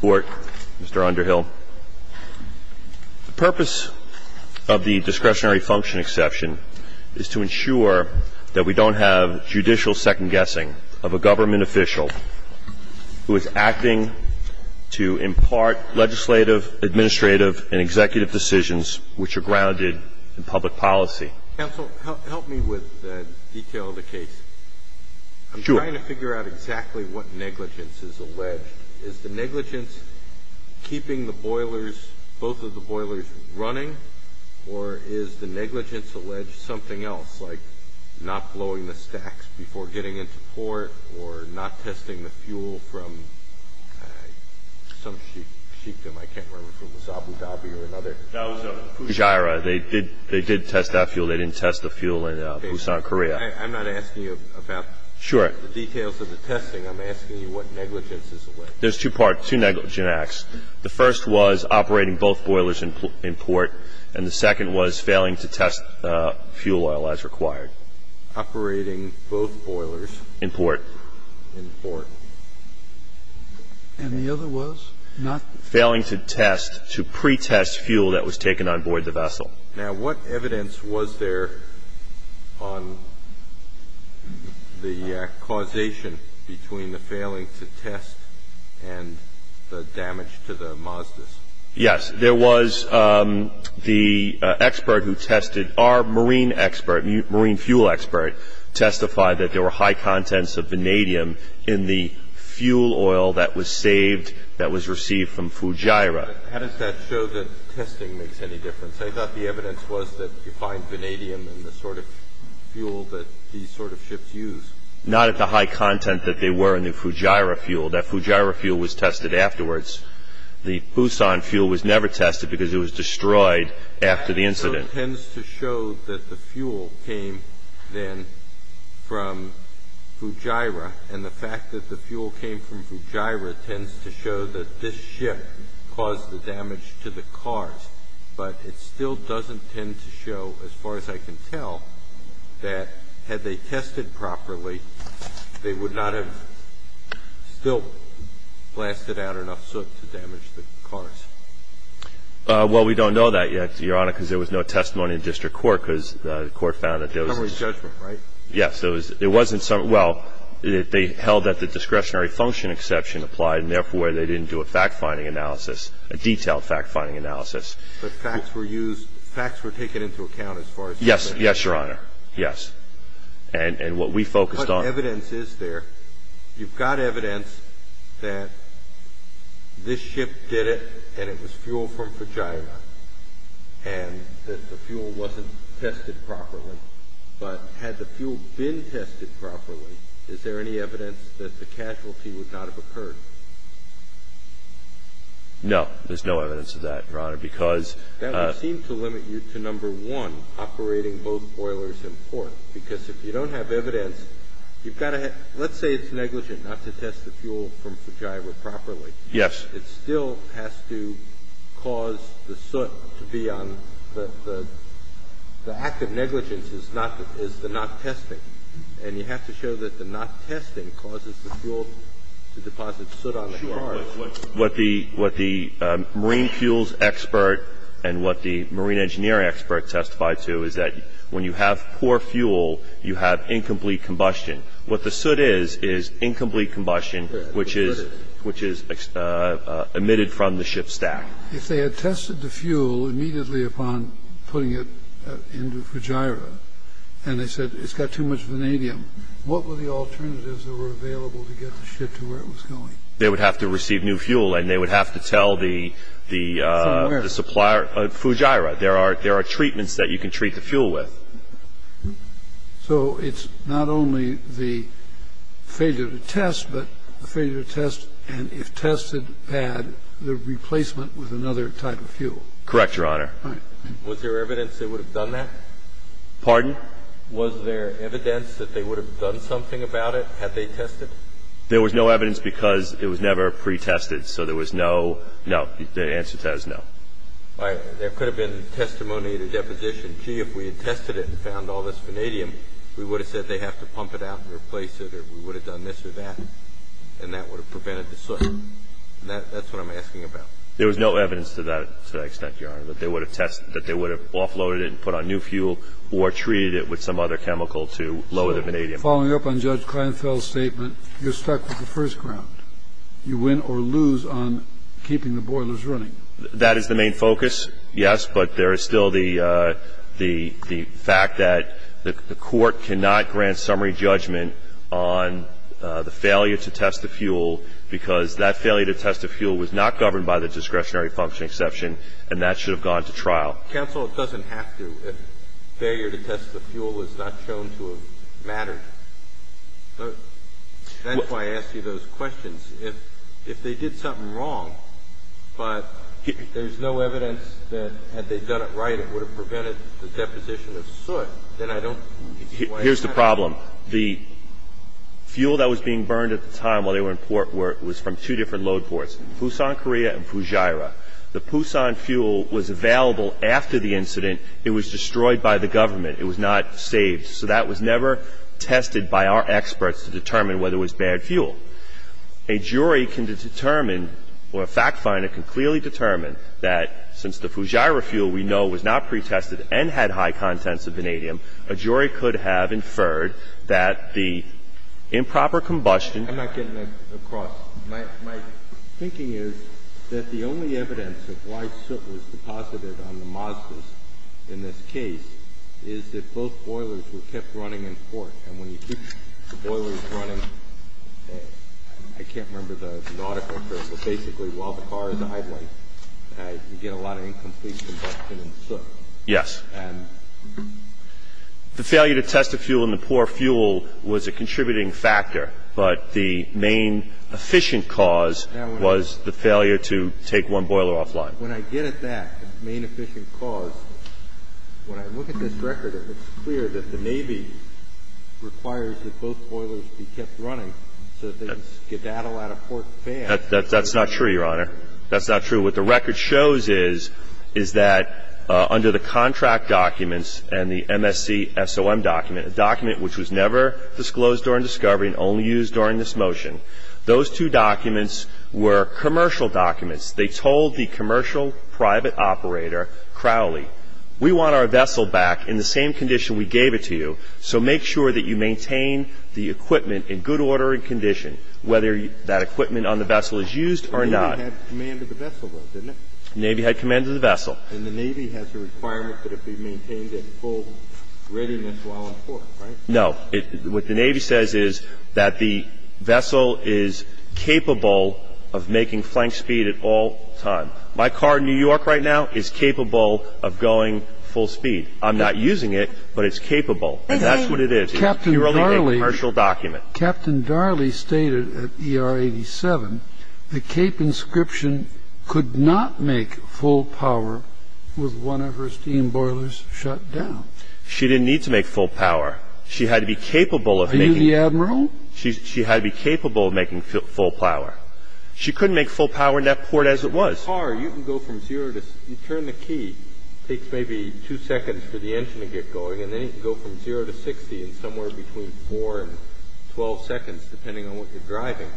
Court, Mr. Underhill, the purpose of the discretionary function exception is to ensure that we don't have judicial second-guessing of a government official who is acting to impart legislative, administrative, and executive decisions which are grounded in public policy. Counsel, help me with the detail of the case. Sure. I'm trying to figure out exactly what negligence is alleged. Is the negligence keeping the boilers, both of the boilers, running? Or is the negligence alleged something else, like not blowing the stacks before getting into port or not testing the fuel from some sheikdom? I can't remember if it was Abu Dhabi or another. No, it was Fujairah. They did test that fuel. They didn't test the fuel in Busan, Korea. I'm not asking you about... Sure. The details of the testing. I'm asking you what negligence is alleged. There's two parts, two negligence acts. The first was operating both boilers in port, and the second was failing to test fuel oil as required. Operating both boilers... In port. In port. And the other was not... Failing to test, to pretest fuel that was taken on board the vessel. Now, what evidence was there on the causation between the failing to test and the damage to the Mazdas? Yes. There was the expert who tested, our marine expert, marine fuel expert, testified that there were high contents of vanadium in the fuel oil that was saved, that was received from Fujairah. How does that show that testing makes any difference? I thought the evidence was that you find vanadium in the sort of fuel that these sort of ships use. Not at the high content that they were in the Fujairah fuel. That Fujairah fuel was tested afterwards. The Busan fuel was never tested because it was destroyed after the incident. So it tends to show that the fuel came then from Fujairah, and the fact that the fuel came from Fujairah tends to show that this ship caused the damage to the cars, but it still doesn't tend to show, as far as I can tell, that had they tested properly, they would not have still blasted out enough soot to damage the cars. Well, we don't know that yet, Your Honor, because there was no testimony in district court, because the court found that there was... Summary judgment, right? Yes. It wasn't some – well, they held that the discretionary function exception applied and therefore they didn't do a fact-finding analysis, a detailed fact-finding analysis. But facts were used – facts were taken into account as far as... Yes. Yes, Your Honor. Yes. And what we focused on... But evidence is there. You've got evidence that this ship did it and it was fuel from Fujairah, and that the fuel wasn't tested properly. But had the fuel been tested properly, is there any evidence that the casualty would not have occurred? No. There's no evidence of that, Your Honor, because... That would seem to limit you to number one, operating both boilers and port, because if you don't have evidence, you've got to have – let's say it's negligent not to test the fuel from Fujairah properly. Yes. It still has to cause the soot to be on the – the act of negligence is the not testing, and you have to show that the not testing causes the fuel to deposit soot on the car. Sure. But what the – what the marine fuels expert and what the marine engineering expert testified to is that when you have poor fuel, you have incomplete combustion. What the soot is is incomplete combustion, which is emitted from the ship's stack. If they had tested the fuel immediately upon putting it into Fujairah and they said it's got too much vanadium, what were the alternatives that were available to get the ship to where it was going? They would have to receive new fuel, and they would have to tell the supplier. From where? Fujairah. There are – there are treatments that you can treat the fuel with. So it's not only the failure to test, but the failure to test, and if tested bad, the replacement with another type of fuel. Correct, Your Honor. All right. Was there evidence they would have done that? Pardon? Was there evidence that they would have done something about it had they tested? There was no evidence because it was never pretested. So there was no – no. The answer to that is no. All right. There could have been testimony to deposition. Gee, if we had tested it and found all this vanadium, we would have said they have to pump it out and replace it, or we would have done this or that, and that would have prevented the soot. And that's what I'm asking about. There was no evidence to that – to that extent, Your Honor, that they would have tested – that they would have offloaded it and put on new fuel or treated it with some other chemical to lower the vanadium. So following up on Judge Kleinfeld's statement, you're stuck with the first ground. You win or lose on keeping the boilers running. That is the main focus, yes, but there is still the fact that the Court cannot grant summary judgment on the failure to test the fuel because that failure to test the fuel was not governed by the discretionary function exception, and that should have gone to trial. Counsel, it doesn't have to. Failure to test the fuel was not shown to have mattered. That's why I ask you those questions. If they did something wrong, but there's no evidence that had they done it right, it would have prevented the deposition of soot, then I don't – Here's the problem. The fuel that was being burned at the time while they were in port was from two different load ports, Busan, Korea, and Fujairah. The Busan fuel was available after the incident. It was destroyed by the government. It was not saved. So that was never tested by our experts to determine whether it was bad fuel. A jury can determine or a fact finder can clearly determine that since the Fujairah fuel we know was not pretested and had high contents of vanadium, a jury could have inferred that the improper combustion – I'm not getting across. My thinking is that the only evidence that why soot was deposited on the Mazdas in this case is that both boilers were kept running in port. And when you keep the boilers running, I can't remember the article, but basically while the car is idling, you get a lot of incomplete combustion in soot. Yes. And the failure to test the fuel and the poor fuel was a contributing factor, but the main efficient cause was the failure to take one boiler offline. When I get at that, the main efficient cause, when I look at this record, it's clear that the Navy requires that both boilers be kept running so that they can skedaddle out of port fast. That's not true, Your Honor. That's not true. What the record shows is that under the contract documents and the MSC SOM document, a document which was never disclosed during discovery and only used during this motion, those two documents were commercial documents. They told the commercial private operator, Crowley, we want our vessel back in the same condition we gave it to you, so make sure that you maintain the equipment in good order and condition, whether that equipment on the vessel is used or not. The Navy had command of the vessel, though, didn't it? The Navy had command of the vessel. And the Navy has a requirement that it be maintained at full readiness while on port, right? No. What the Navy says is that the vessel is capable of making flank speed at all times. My car in New York right now is capable of going full speed. I'm not using it, but it's capable, and that's what it is. It's purely a commercial document. Captain Darley stated at ER 87, the Cape inscription could not make full power with one of her steam boilers shut down. She didn't need to make full power. She had to be capable of making full power. She couldn't make full power in that port as it was. In a car, you can go from zero to 60. You turn the key, it takes maybe two seconds for the engine to get going, and then you can go from zero to 60 in somewhere between four and 12 seconds, depending on what you're driving.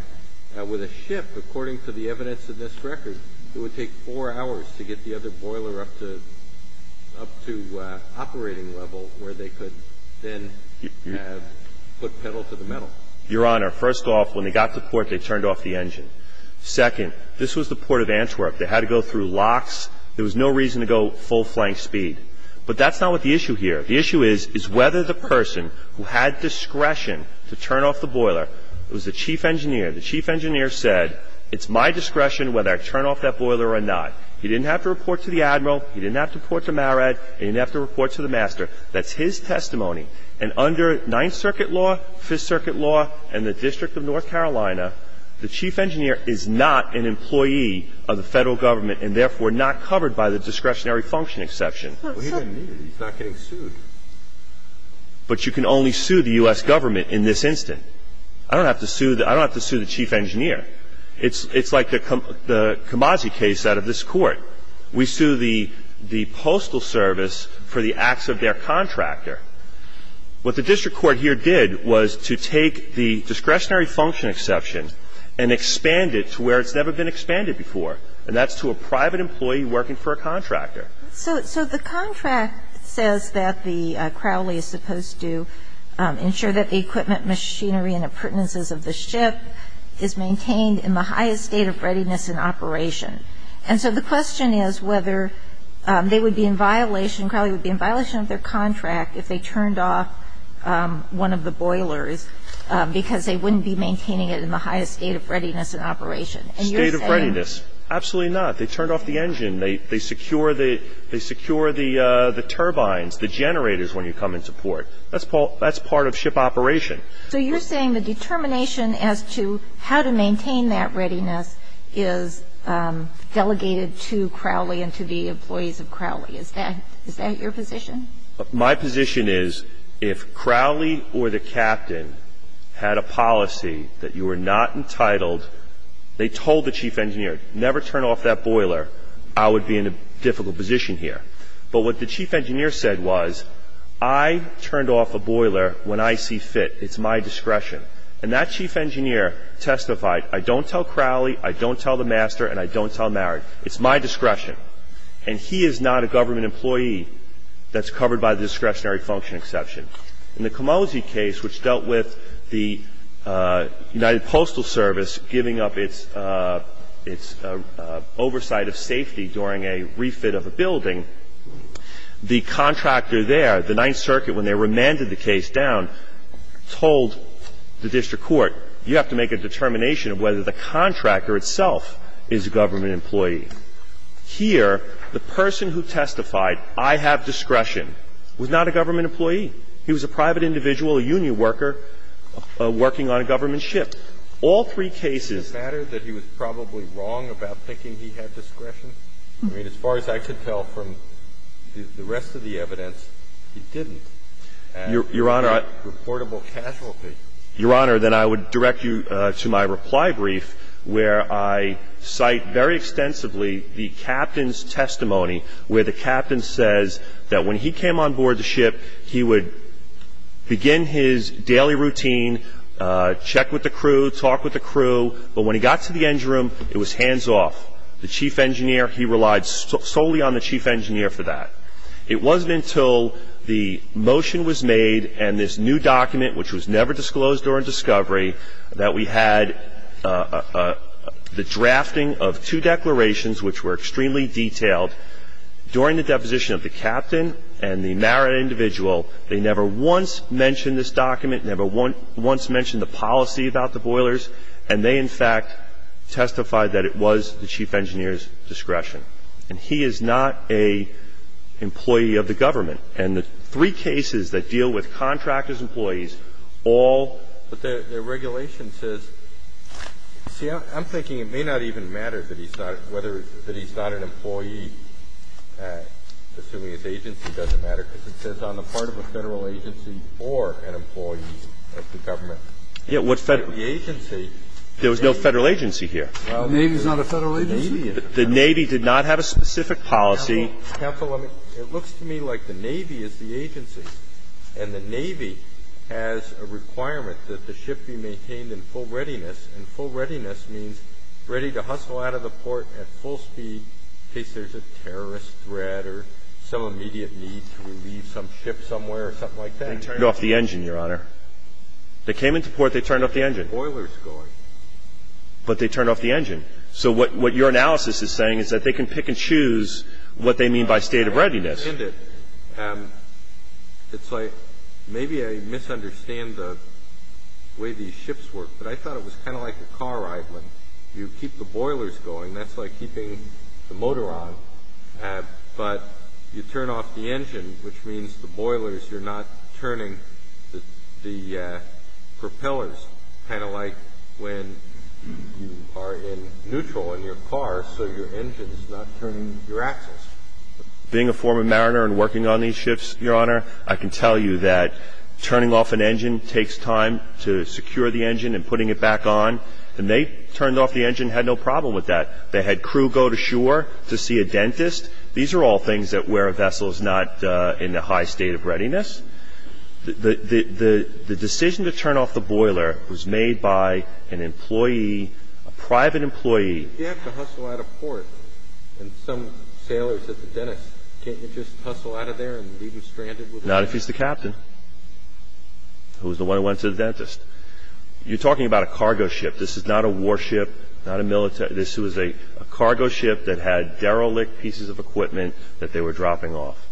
With a ship, according to the evidence in this record, it would take four hours to get the other boiler up to operating level, where they could then put pedal to the metal. Your Honor, first off, when they got to port, they turned off the engine. Second, this was the port of Antwerp. They had to go through locks. There was no reason to go full flank speed. But that's not what the issue here. The issue is, is whether the person who had discretion to turn off the boiler, it was the chief engineer, the chief engineer said, it's my discretion whether I turn off that boiler or not. He didn't have to report to the admiral. He didn't have to report to Marad. He didn't have to report to the master. That's his testimony. And under Ninth Circuit law, Fifth Circuit law, and the District of North Carolina, the chief engineer is not an employee of the Federal Government and therefore not covered by the discretionary function exception. He didn't need it. He's not getting sued. But you can only sue the U.S. Government in this instance. I don't have to sue the chief engineer. It's like the Cambazzi case out of this Court. We sue the Postal Service for the acts of their contractor. What the district court here did was to take the discretionary function exception and expand it to where it's never been expanded before, and that's to a private employee working for a contractor. So the contract says that the Crowley is supposed to ensure that the equipment, machinery, and appurtenances of the ship is maintained in the highest state of readiness and operation. And so the question is whether they would be in violation, Crowley would be in violation of their contract if they turned off one of the boilers because they wouldn't be maintaining it in the highest state of readiness and operation. And you're saying. State of readiness. Absolutely not. They turned off the engine. They secure the turbines, the generators when you come into port. That's part of ship operation. So you're saying the determination as to how to maintain that readiness is delegated to Crowley and to the employees of Crowley. Is that your position? My position is if Crowley or the captain had a policy that you were not entitled, they told the chief engineer, never turn off that boiler, I would be in a difficult position here. But what the chief engineer said was, I turned off a boiler when I see fit. It's my discretion. And that chief engineer testified, I don't tell Crowley, I don't tell the master, and I don't tell Marrard. It's my discretion. And he is not a government employee that's covered by the discretionary function exception. In the Camosi case, which dealt with the United Postal Service giving up its oversight of safety during a refit of a building, the contractor there, the Ninth Circuit, when they remanded the case down, told the district court, you have to make a determination of whether the contractor itself is a government employee. Here, the person who testified, I have discretion, was not a government employee. He was a private individual, a union worker, working on a government ship. All three cases. Does it matter that he was probably wrong about thinking he had discretion? I mean, as far as I could tell from the rest of the evidence, he didn't. Your Honor, Your Honor, then I would direct you to my reply brief, where I cite very extensively the captain's testimony, where the captain says that when he came on board the ship, he would begin his daily routine, check with the crew, talk with the crew, but when he got to the engine room, it was hands off. The chief engineer, he relied solely on the chief engineer for that. It wasn't until the motion was made and this new document, which was never disclosed during discovery, that we had the drafting of two declarations, which were extremely detailed. During the deposition of the captain and the married individual, they never once mentioned this document, never once mentioned the policy about the boilers, and they, in fact, testified that it was the chief engineer's discretion. And he is not an employee of the government. And the three cases that deal with contractors' employees, all. But the regulation says – see, I'm thinking it may not even matter that he's not – whether he's not an employee, assuming his agency, doesn't matter, because it says on the part of a Federal agency or an employee of the government. Yeah, what's Federal? The agency. There was no Federal agency here. The Navy is not a Federal agency? The Navy did not have a specific policy. Counsel, it looks to me like the Navy is the agency, and the Navy has a requirement that the ship be maintained in full readiness, and full readiness means ready to hustle out of the port at full speed in case there's a terrorist threat or some immediate need to leave some ship somewhere or something like that. They turned off the engine, Your Honor. They came into port, they turned off the engine. Boilers going. But they turned off the engine. So what your analysis is saying is that they can pick and choose what they mean by state of readiness. I understand it. It's like maybe I misunderstand the way these ships work, but I thought it was kind of like a car ride when you keep the boilers going. That's like keeping the motor on. But you turn off the engine, which means the boilers, you're not turning the propellers, kind of like when you are in neutral in your car so your engine is not turning your axis. Being a former mariner and working on these ships, Your Honor, I can tell you that turning off an engine takes time to secure the engine and putting it back on. And they turned off the engine and had no problem with that. They had crew go to shore to see a dentist. These are all things that where a vessel is not in the high state of readiness. The decision to turn off the boiler was made by an employee, a private employee. If you have to hustle out of port and some sailor says to the dentist, can't you just hustle out of there and leave him stranded? Not if he's the captain. It was the one who went to the dentist. You're talking about a cargo ship. This is not a warship, not a military. This was a cargo ship that had derelict pieces of equipment that they were dropping off.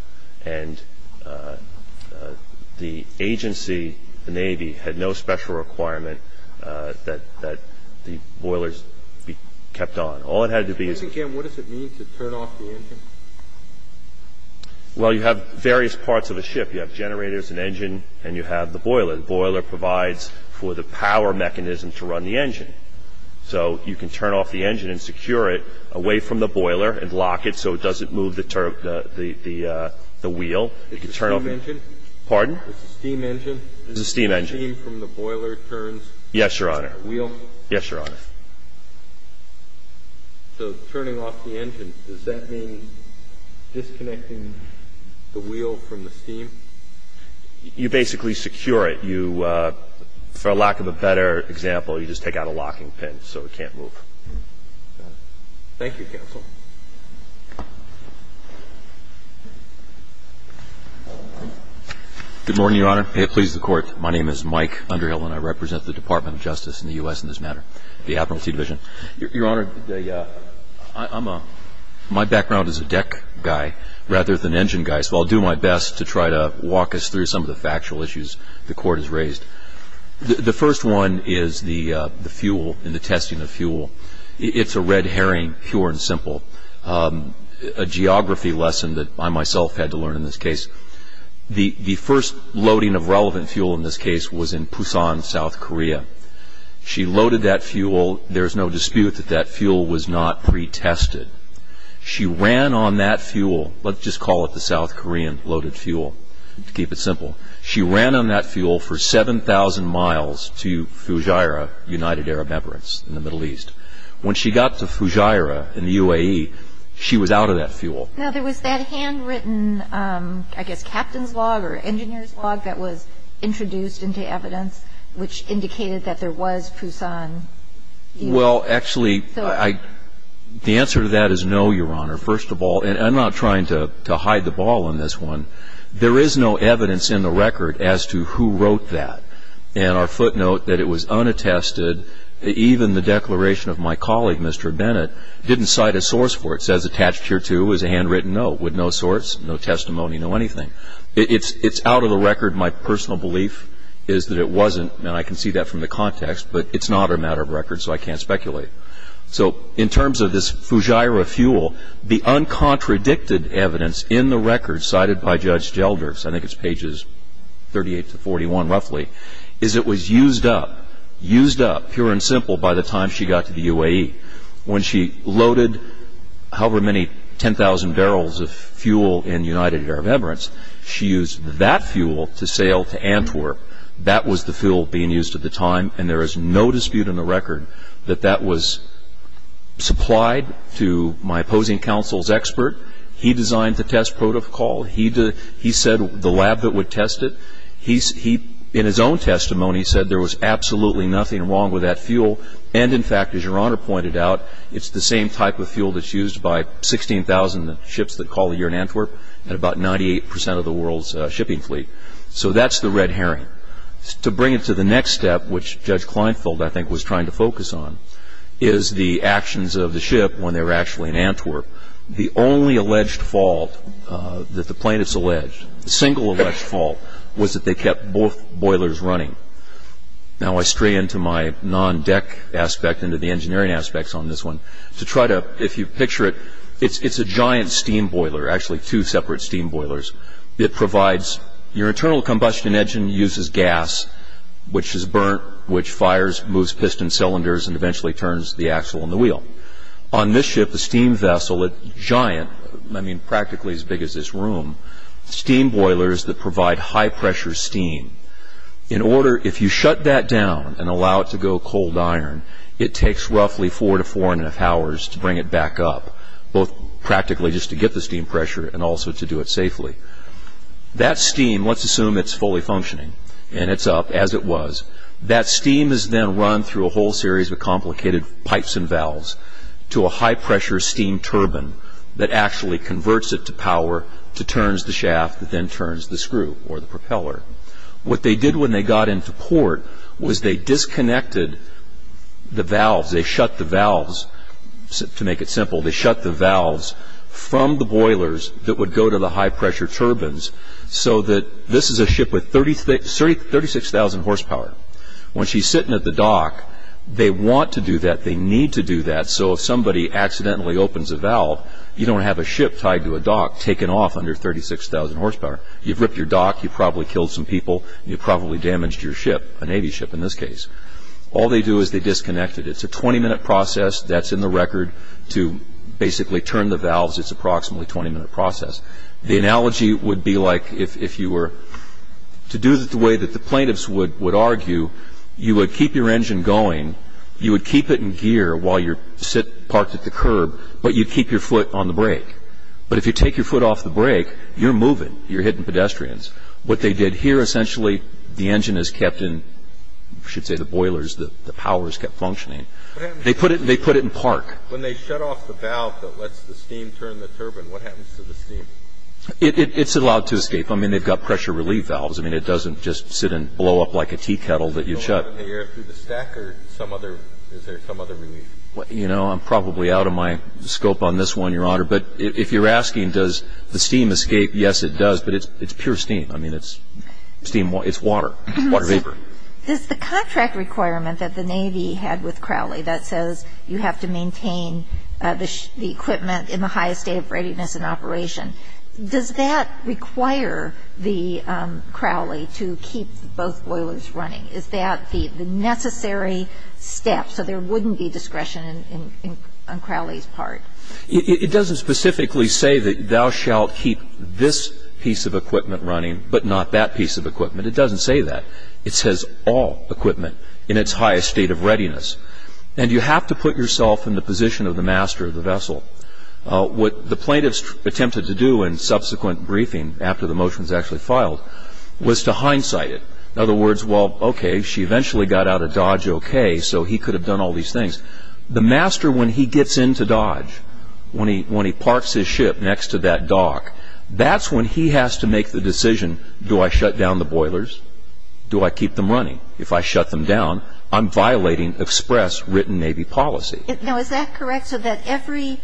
And the agency, the Navy, had no special requirement that the boilers be kept on. All it had to be... Once again, what does it mean to turn off the engine? Well, you have various parts of a ship. You have generators, an engine, and you have the boiler. The boiler provides for the power mechanism to run the engine. So you can turn off the engine and secure it away from the boiler and lock it so it doesn't move the wheel. It's a steam engine? Pardon? It's a steam engine? It's a steam engine. The steam from the boiler turns the wheel? Yes, Your Honor. So turning off the engine, does that mean disconnecting the wheel from the steam? You basically secure it. You, for lack of a better example, you just take out a locking pin so it can't move. Thank you, counsel. Good morning, Your Honor. May it please the Court, my name is Mike Underhill, and I represent the Department of Justice in the U.S. in this matter, the Admiralty Division. Your Honor, my background is a deck guy rather than engine guy, so I'll do my best to try to walk us through some of the factual issues the Court has raised. It's a red herring, pure and simple. A geography lesson that I myself had to learn in this case. The first loading of relevant fuel in this case was in Pusan, South Korea. She loaded that fuel. There's no dispute that that fuel was not pretested. She ran on that fuel. Let's just call it the South Korean loaded fuel, to keep it simple. She ran on that fuel for 7,000 miles to Fujairah, United Arab Emirates in the Middle East. When she got to Fujairah in the UAE, she was out of that fuel. Now, there was that handwritten, I guess, captain's log or engineer's log that was introduced into evidence which indicated that there was Pusan. Well, actually, the answer to that is no, Your Honor. First of all, and I'm not trying to hide the ball on this one, there is no evidence in the record as to who wrote that. And our footnote that it was unattested, even the declaration of my colleague, Mr. Bennett, didn't cite a source for it. It says attached here, too, is a handwritten note with no source, no testimony, no anything. It's out of the record. My personal belief is that it wasn't, and I can see that from the context, but it's not a matter of record, so I can't speculate. So in terms of this Fujairah fuel, the uncontradicted evidence in the record cited by Judge Gelders, I think it's pages 38 to 41, roughly, is it was used up, used up, pure and simple, by the time she got to the UAE. When she loaded however many 10,000 barrels of fuel in the United Arab Emirates, she used that fuel to sail to Antwerp. That was the fuel being used at the time, and there is no dispute in the record that that was supplied to my opposing counsel's expert. He designed the test protocol. He said the lab that would test it, he, in his own testimony, said there was absolutely nothing wrong with that fuel. And in fact, as Your Honor pointed out, it's the same type of fuel that's used by 16,000 ships that call a year in Antwerp and about 98% of the world's shipping fleet. So that's the red herring. To bring it to the next step, which Judge Kleinfeld, I think, was trying to focus on, is the actions of the ship when they were actually in Antwerp. The only alleged fault that the plaintiffs alleged, the single alleged fault, was that they kept both boilers running. Now I stray into my non-deck aspect, into the engineering aspects on this one, to try to, if you picture it, it's a giant steam boiler, actually two separate steam boilers. It provides, your internal combustion engine uses gas, which is burnt, which fires, moves piston cylinders, and eventually turns the axle and the wheel. On this ship, a steam vessel, a giant, I mean, practically as big as this room, steam boilers that provide high-pressure steam. In order, if you shut that down and allow it to go cold iron, it takes roughly four to four and a half hours to bring it back up, both practically just to get the steam pressure and also to do it safely. That steam, let's assume it's fully functioning and it's up, as it was, that steam is then run through a whole series of complicated pipes and valves to a high-pressure steam turbine that actually converts it to power, to turns the shaft, then turns the screw or the propeller. What they did when they got into port was they disconnected the valves, they shut the valves, to make it simple, they shut the valves from the boilers that would go to the high-pressure turbines, so that this is a ship with 36,000 horsepower. When she's sitting at the dock, they want to do that, they need to do that, so if somebody accidentally opens a valve, you don't have a ship tied to a dock taken off under 36,000 horsepower. You've ripped your dock, you probably killed some people, you probably damaged your ship, a Navy ship in this case. All they do is they disconnect it. It's a 20-minute process that's in the record to basically turn the valves, it's approximately a 20-minute process. The analogy would be like if you were to do it the way that the plaintiffs would argue, you would keep your engine going, you would keep it in gear while you're parked at the curb, but you'd keep your foot on the brake. But if you take your foot off the brake, you're moving, you're hitting pedestrians. What they did here, essentially, the engine is kept in, I should say the boilers, the power is kept functioning. They put it in park. When they shut off the valve that lets the steam turn the turbine, what happens to the steam? It's allowed to escape. I mean, they've got pressure relief valves. I mean, it doesn't just sit and blow up like a tea kettle that you shut. Does it blow up in the air through the stack or is there some other relief? You know, I'm probably out of my scope on this one, Your Honor, but if you're asking does the steam escape, yes, it does, but it's pure steam. I mean, it's steam, it's water, water vapor. Does the contract requirement that the Navy had with Crowley that says you have to maintain the equipment in the highest state of readiness and operation, does that require the Crowley to keep both boilers running? Is that the necessary step so there wouldn't be discretion on Crowley's part? It doesn't specifically say that thou shalt keep this piece of equipment running but not that piece of equipment. It doesn't say that. It says all equipment in its highest state of readiness. And you have to put yourself in the position of the master of the vessel. What the plaintiffs attempted to do in subsequent briefing after the motion was actually filed was to hindsight it. In other words, well, okay, she eventually got out of Dodge okay, so he could have done all these things. The master, when he gets into Dodge, when he parks his ship next to that dock, that's when he has to make the decision do I shut down the boilers, do I keep them running? If I shut them down, I'm violating express written Navy policy. Now, is that correct so that every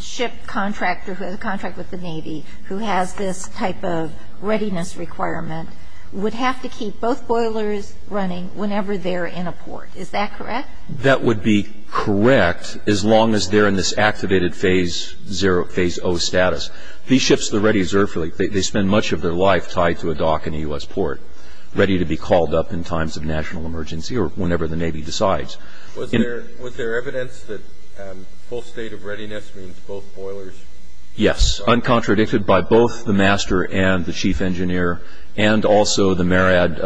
ship contractor who has a contract with the Navy who has this type of readiness requirement would have to keep both boilers running whenever they're in a port? Is that correct? That would be correct as long as they're in this activated phase zero, phase O status. These ships, they spend much of their life tied to a dock in a U.S. port, ready to be called up in times of national emergency or whenever the Navy decides. Was there evidence that full state of readiness means both boilers? Yes. Uncontradicted by both the master and the chief engineer and also the MARAD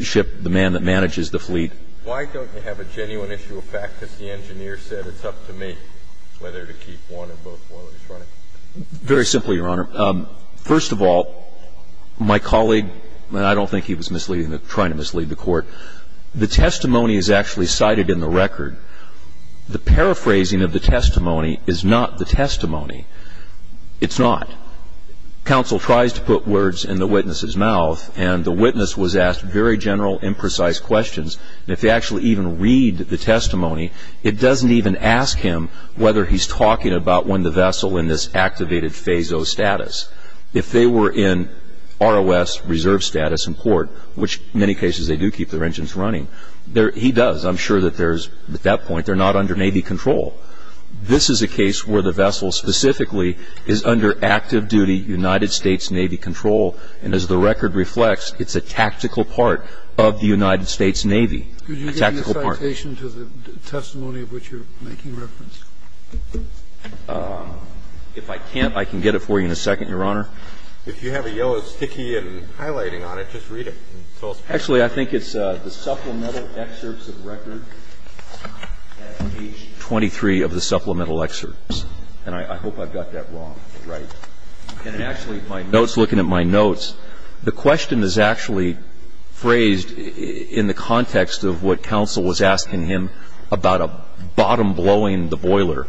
ship, the man that manages the fleet. Why don't you have a genuine issue of fact that the engineer said it's up to me whether to keep one or both boilers running? Very simply, Your Honor. First of all, my colleague, and I don't think he was misleading, trying to mislead the Court, the testimony is actually cited in the record. The paraphrasing of the testimony is not the testimony. It's not. Counsel tries to put words in the witness's mouth, and the witness was asked very general, imprecise questions. If they actually even read the testimony, it doesn't even ask him whether he's talking about when the vessel in this activated phase O status. If they were in ROS, reserve status, and port, which in many cases they do keep their engines running. He does. I'm sure that there's, at that point, they're not under Navy control. This is a case where the vessel specifically is under active duty United States Navy control, and as the record reflects, it's a tactical part of the United States Navy, a tactical part. Could you give me a citation to the testimony of which you're making reference? If I can't, I can get it for you in a second, Your Honor. If you have a yellow sticky and highlighting on it, just read it. Actually, I think it's the supplemental excerpts of record at page 23 of the supplemental excerpts, and I hope I've got that wrong. Right. Actually, my notes, looking at my notes, the question is actually phrased in the context of what counsel was asking him about a bottom blowing the boiler.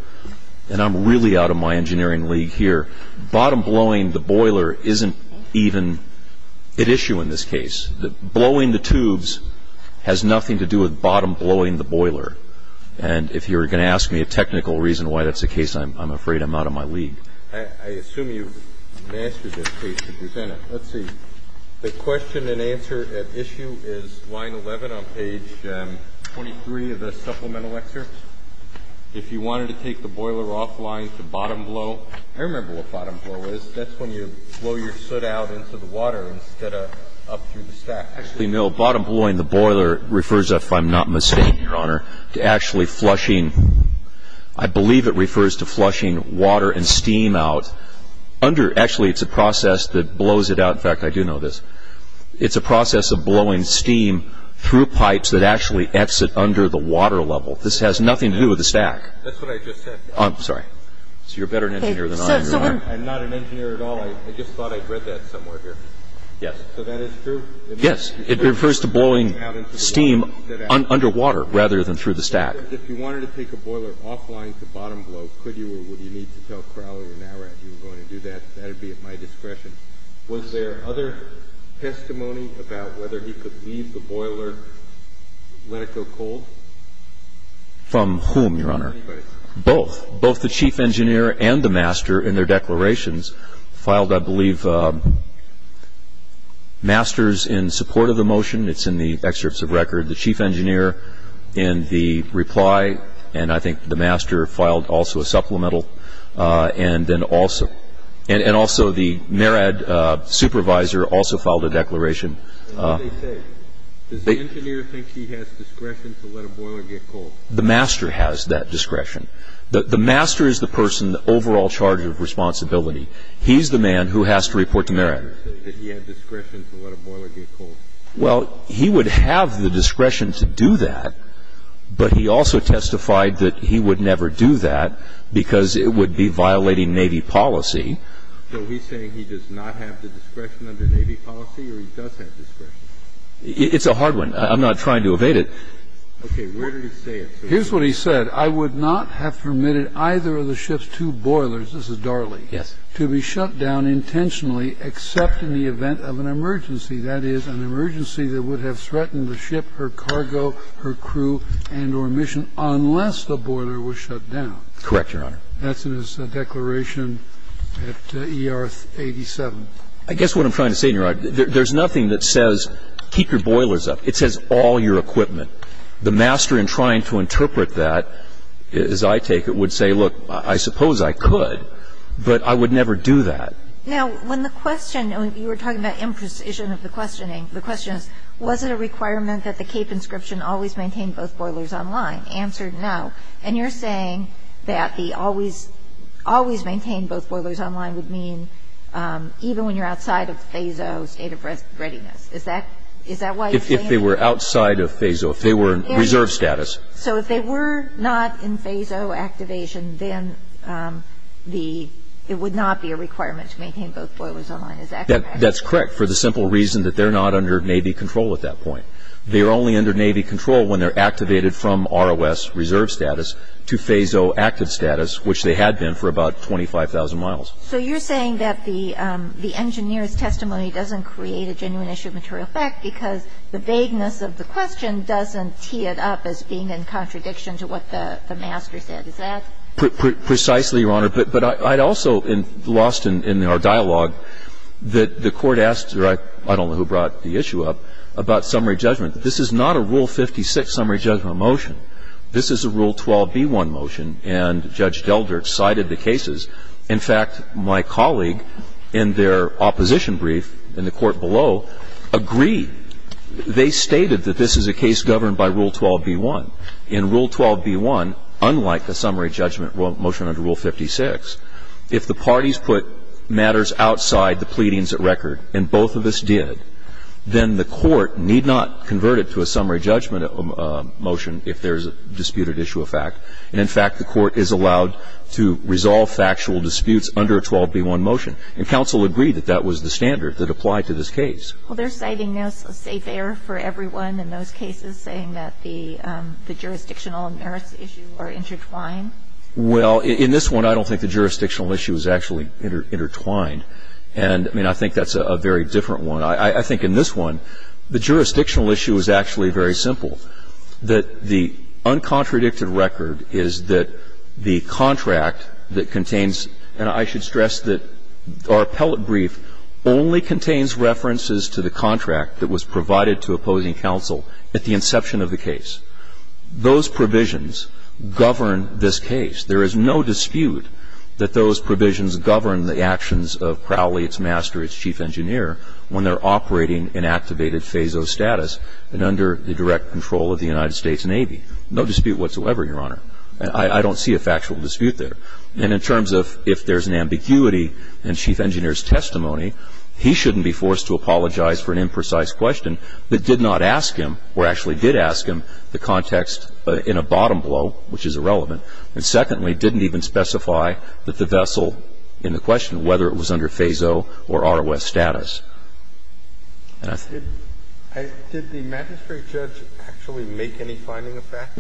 And I'm really out of my engineering league here. Bottom blowing the boiler isn't even an issue in this case. Blowing the tubes has nothing to do with bottom blowing the boiler. And if you were going to ask me a technical reason why that's the case, I'm afraid I'm out of my league. I assume you've mastered this case to present it. Let's see. The question and answer at issue is line 11 on page 23 of the supplemental excerpts. If you wanted to take the boiler offline to bottom blow, I remember what bottom blow is. That's when you blow your soot out into the water instead of up through the stack. Actually, no. Bottom blowing the boiler refers, if I'm not mistaken, Your Honor, to actually flushing. I believe it refers to flushing water and steam out. Actually, it's a process that blows it out. In fact, I do know this. It's a process of blowing steam through pipes that actually exit under the water level. This has nothing to do with the stack. That's what I just said. I'm sorry. So you're a better engineer than I am, Your Honor. I'm not an engineer at all. I just thought I'd read that somewhere here. Yes. So that is true? Yes. It refers to blowing steam underwater rather than through the stack. If you wanted to take a boiler offline to bottom blow, could you or would you need to tell Crowley or Nowrat you were going to do that? That would be at my discretion. Was there other testimony about whether he could leave the boiler, let it go cold? From whom, Your Honor? Anybody. Both. Both the chief engineer and the master in their declarations filed, I believe, masters in support of the motion. It's in the excerpts of record. The chief engineer in the reply, and I think the master filed also a supplemental, and also the Nowrat supervisor also filed a declaration. What did they say? Does the engineer think he has discretion to let a boiler get cold? The master has that discretion. The master is the person, the overall charge of responsibility. He's the man who has to report to Nowrat. Did the master say that he had discretion to let a boiler get cold? Well, he would have the discretion to do that, but he also testified that he would never do that because it would be violating Navy policy. So he's saying he does not have the discretion under Navy policy or he does have discretion? It's a hard one. I'm not trying to evade it. Okay. Where did he say it? Here's what he said. I would not have permitted either of the ship's two boilers, this is Darley, to be shut down intentionally except in the event of an emergency. That is, an emergency that would have threatened the ship, her cargo, her crew, and or mission unless the boiler was shut down. Correct, Your Honor. That's in his declaration at ER 87. I guess what I'm trying to say, Your Honor, there's nothing that says keep your boilers up. It says all your equipment. The master in trying to interpret that, as I take it, would say, look, I suppose I could, but I would never do that. Now, when the question, you were talking about imprecision of the questioning, the question is, was it a requirement that the Cape inscription always maintain both boilers online? Answer, no. And you're saying that the always maintain both boilers online would mean even when you're outside of phase O state of readiness. Is that why you're saying that? If they were outside of phase O, if they were in reserve status. So if they were not in phase O activation, then it would not be a requirement to maintain both boilers online. Is that correct? That's correct for the simple reason that they're not under Navy control at that point. They are only under Navy control when they're activated from ROS reserve status to phase O active status, which they had been for about 25,000 miles. So you're saying that the engineer's testimony doesn't create a genuine issue of material fact because the vagueness of the question doesn't tee it up as being in contradiction to what the master said. Precisely, Your Honor. But I also lost in our dialogue that the Court asked, or I don't know who brought the issue up, about summary judgment. This is not a Rule 56 summary judgment motion. This is a Rule 12b-1 motion, and Judge Delder cited the cases. In fact, my colleague in their opposition brief in the court below agreed. They stated that this is a case governed by Rule 12b-1. In Rule 12b-1, unlike a summary judgment motion under Rule 56, if the parties put matters outside the pleadings at record, and both of us did, then the court need not convert it to a summary judgment motion if there's a disputed issue of fact. And in fact, the court is allowed to resolve factual disputes under a 12b-1 motion. And counsel agreed that that was the standard that applied to this case. Well, they're citing now a safe air for everyone in those cases, saying that the jurisdictional and merits issues are intertwined. Well, in this one, I don't think the jurisdictional issue is actually intertwined. And, I mean, I think that's a very different one. I think in this one, the jurisdictional issue is actually very simple, that the contradicted record is that the contract that contains, and I should stress that our appellate brief only contains references to the contract that was provided to opposing counsel at the inception of the case. Those provisions govern this case. There is no dispute that those provisions govern the actions of Crowley, its master, its chief engineer, when they're operating in activated FASO status and under the direct control of the United States Navy. No dispute whatsoever, Your Honor. I don't see a factual dispute there. And in terms of if there's an ambiguity in Chief Engineer's testimony, he shouldn't be forced to apologize for an imprecise question that did not ask him or actually did ask him the context in a bottom blow, which is irrelevant, and secondly, didn't even specify that the vessel in the question, whether it was under FASO or ROS status. Did the magistrate judge actually make any finding of fact?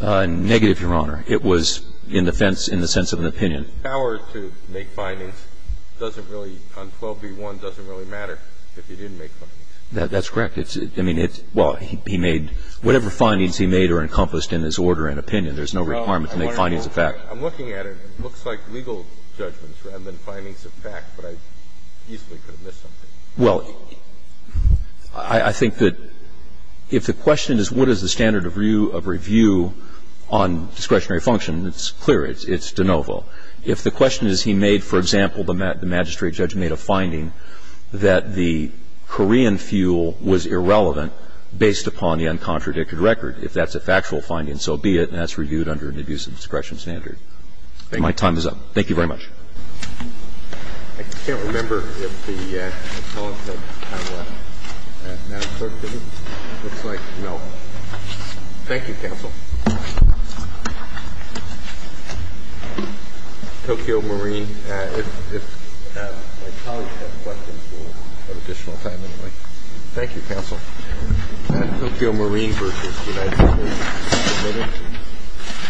Negative, Your Honor. It was in the sense of an opinion. The power to make findings doesn't really, on 12b-1, doesn't really matter if he didn't make findings. That's correct. I mean, it's, well, he made, whatever findings he made are encompassed in his order and opinion. There's no requirement to make findings of fact. I'm looking at it. It looks like legal judgments rather than findings of fact. But I easily could have missed something. Well, I think that if the question is what is the standard of review on discretionary function, it's clear. It's de novo. If the question is he made, for example, the magistrate judge made a finding that the Korean fuel was irrelevant based upon the uncontradicted record. If that's a factual finding, so be it. And that's reviewed under an abuse of discretion standard. My time is up. Thank you very much. I can't remember if the colleague had time left. Madam Clerk, did he? Looks like no. Thank you, counsel. Tokyo Marine. If my colleague has questions, we'll have additional time anyway. Thank you, counsel. Tokyo Marine versus the United States. Thank you.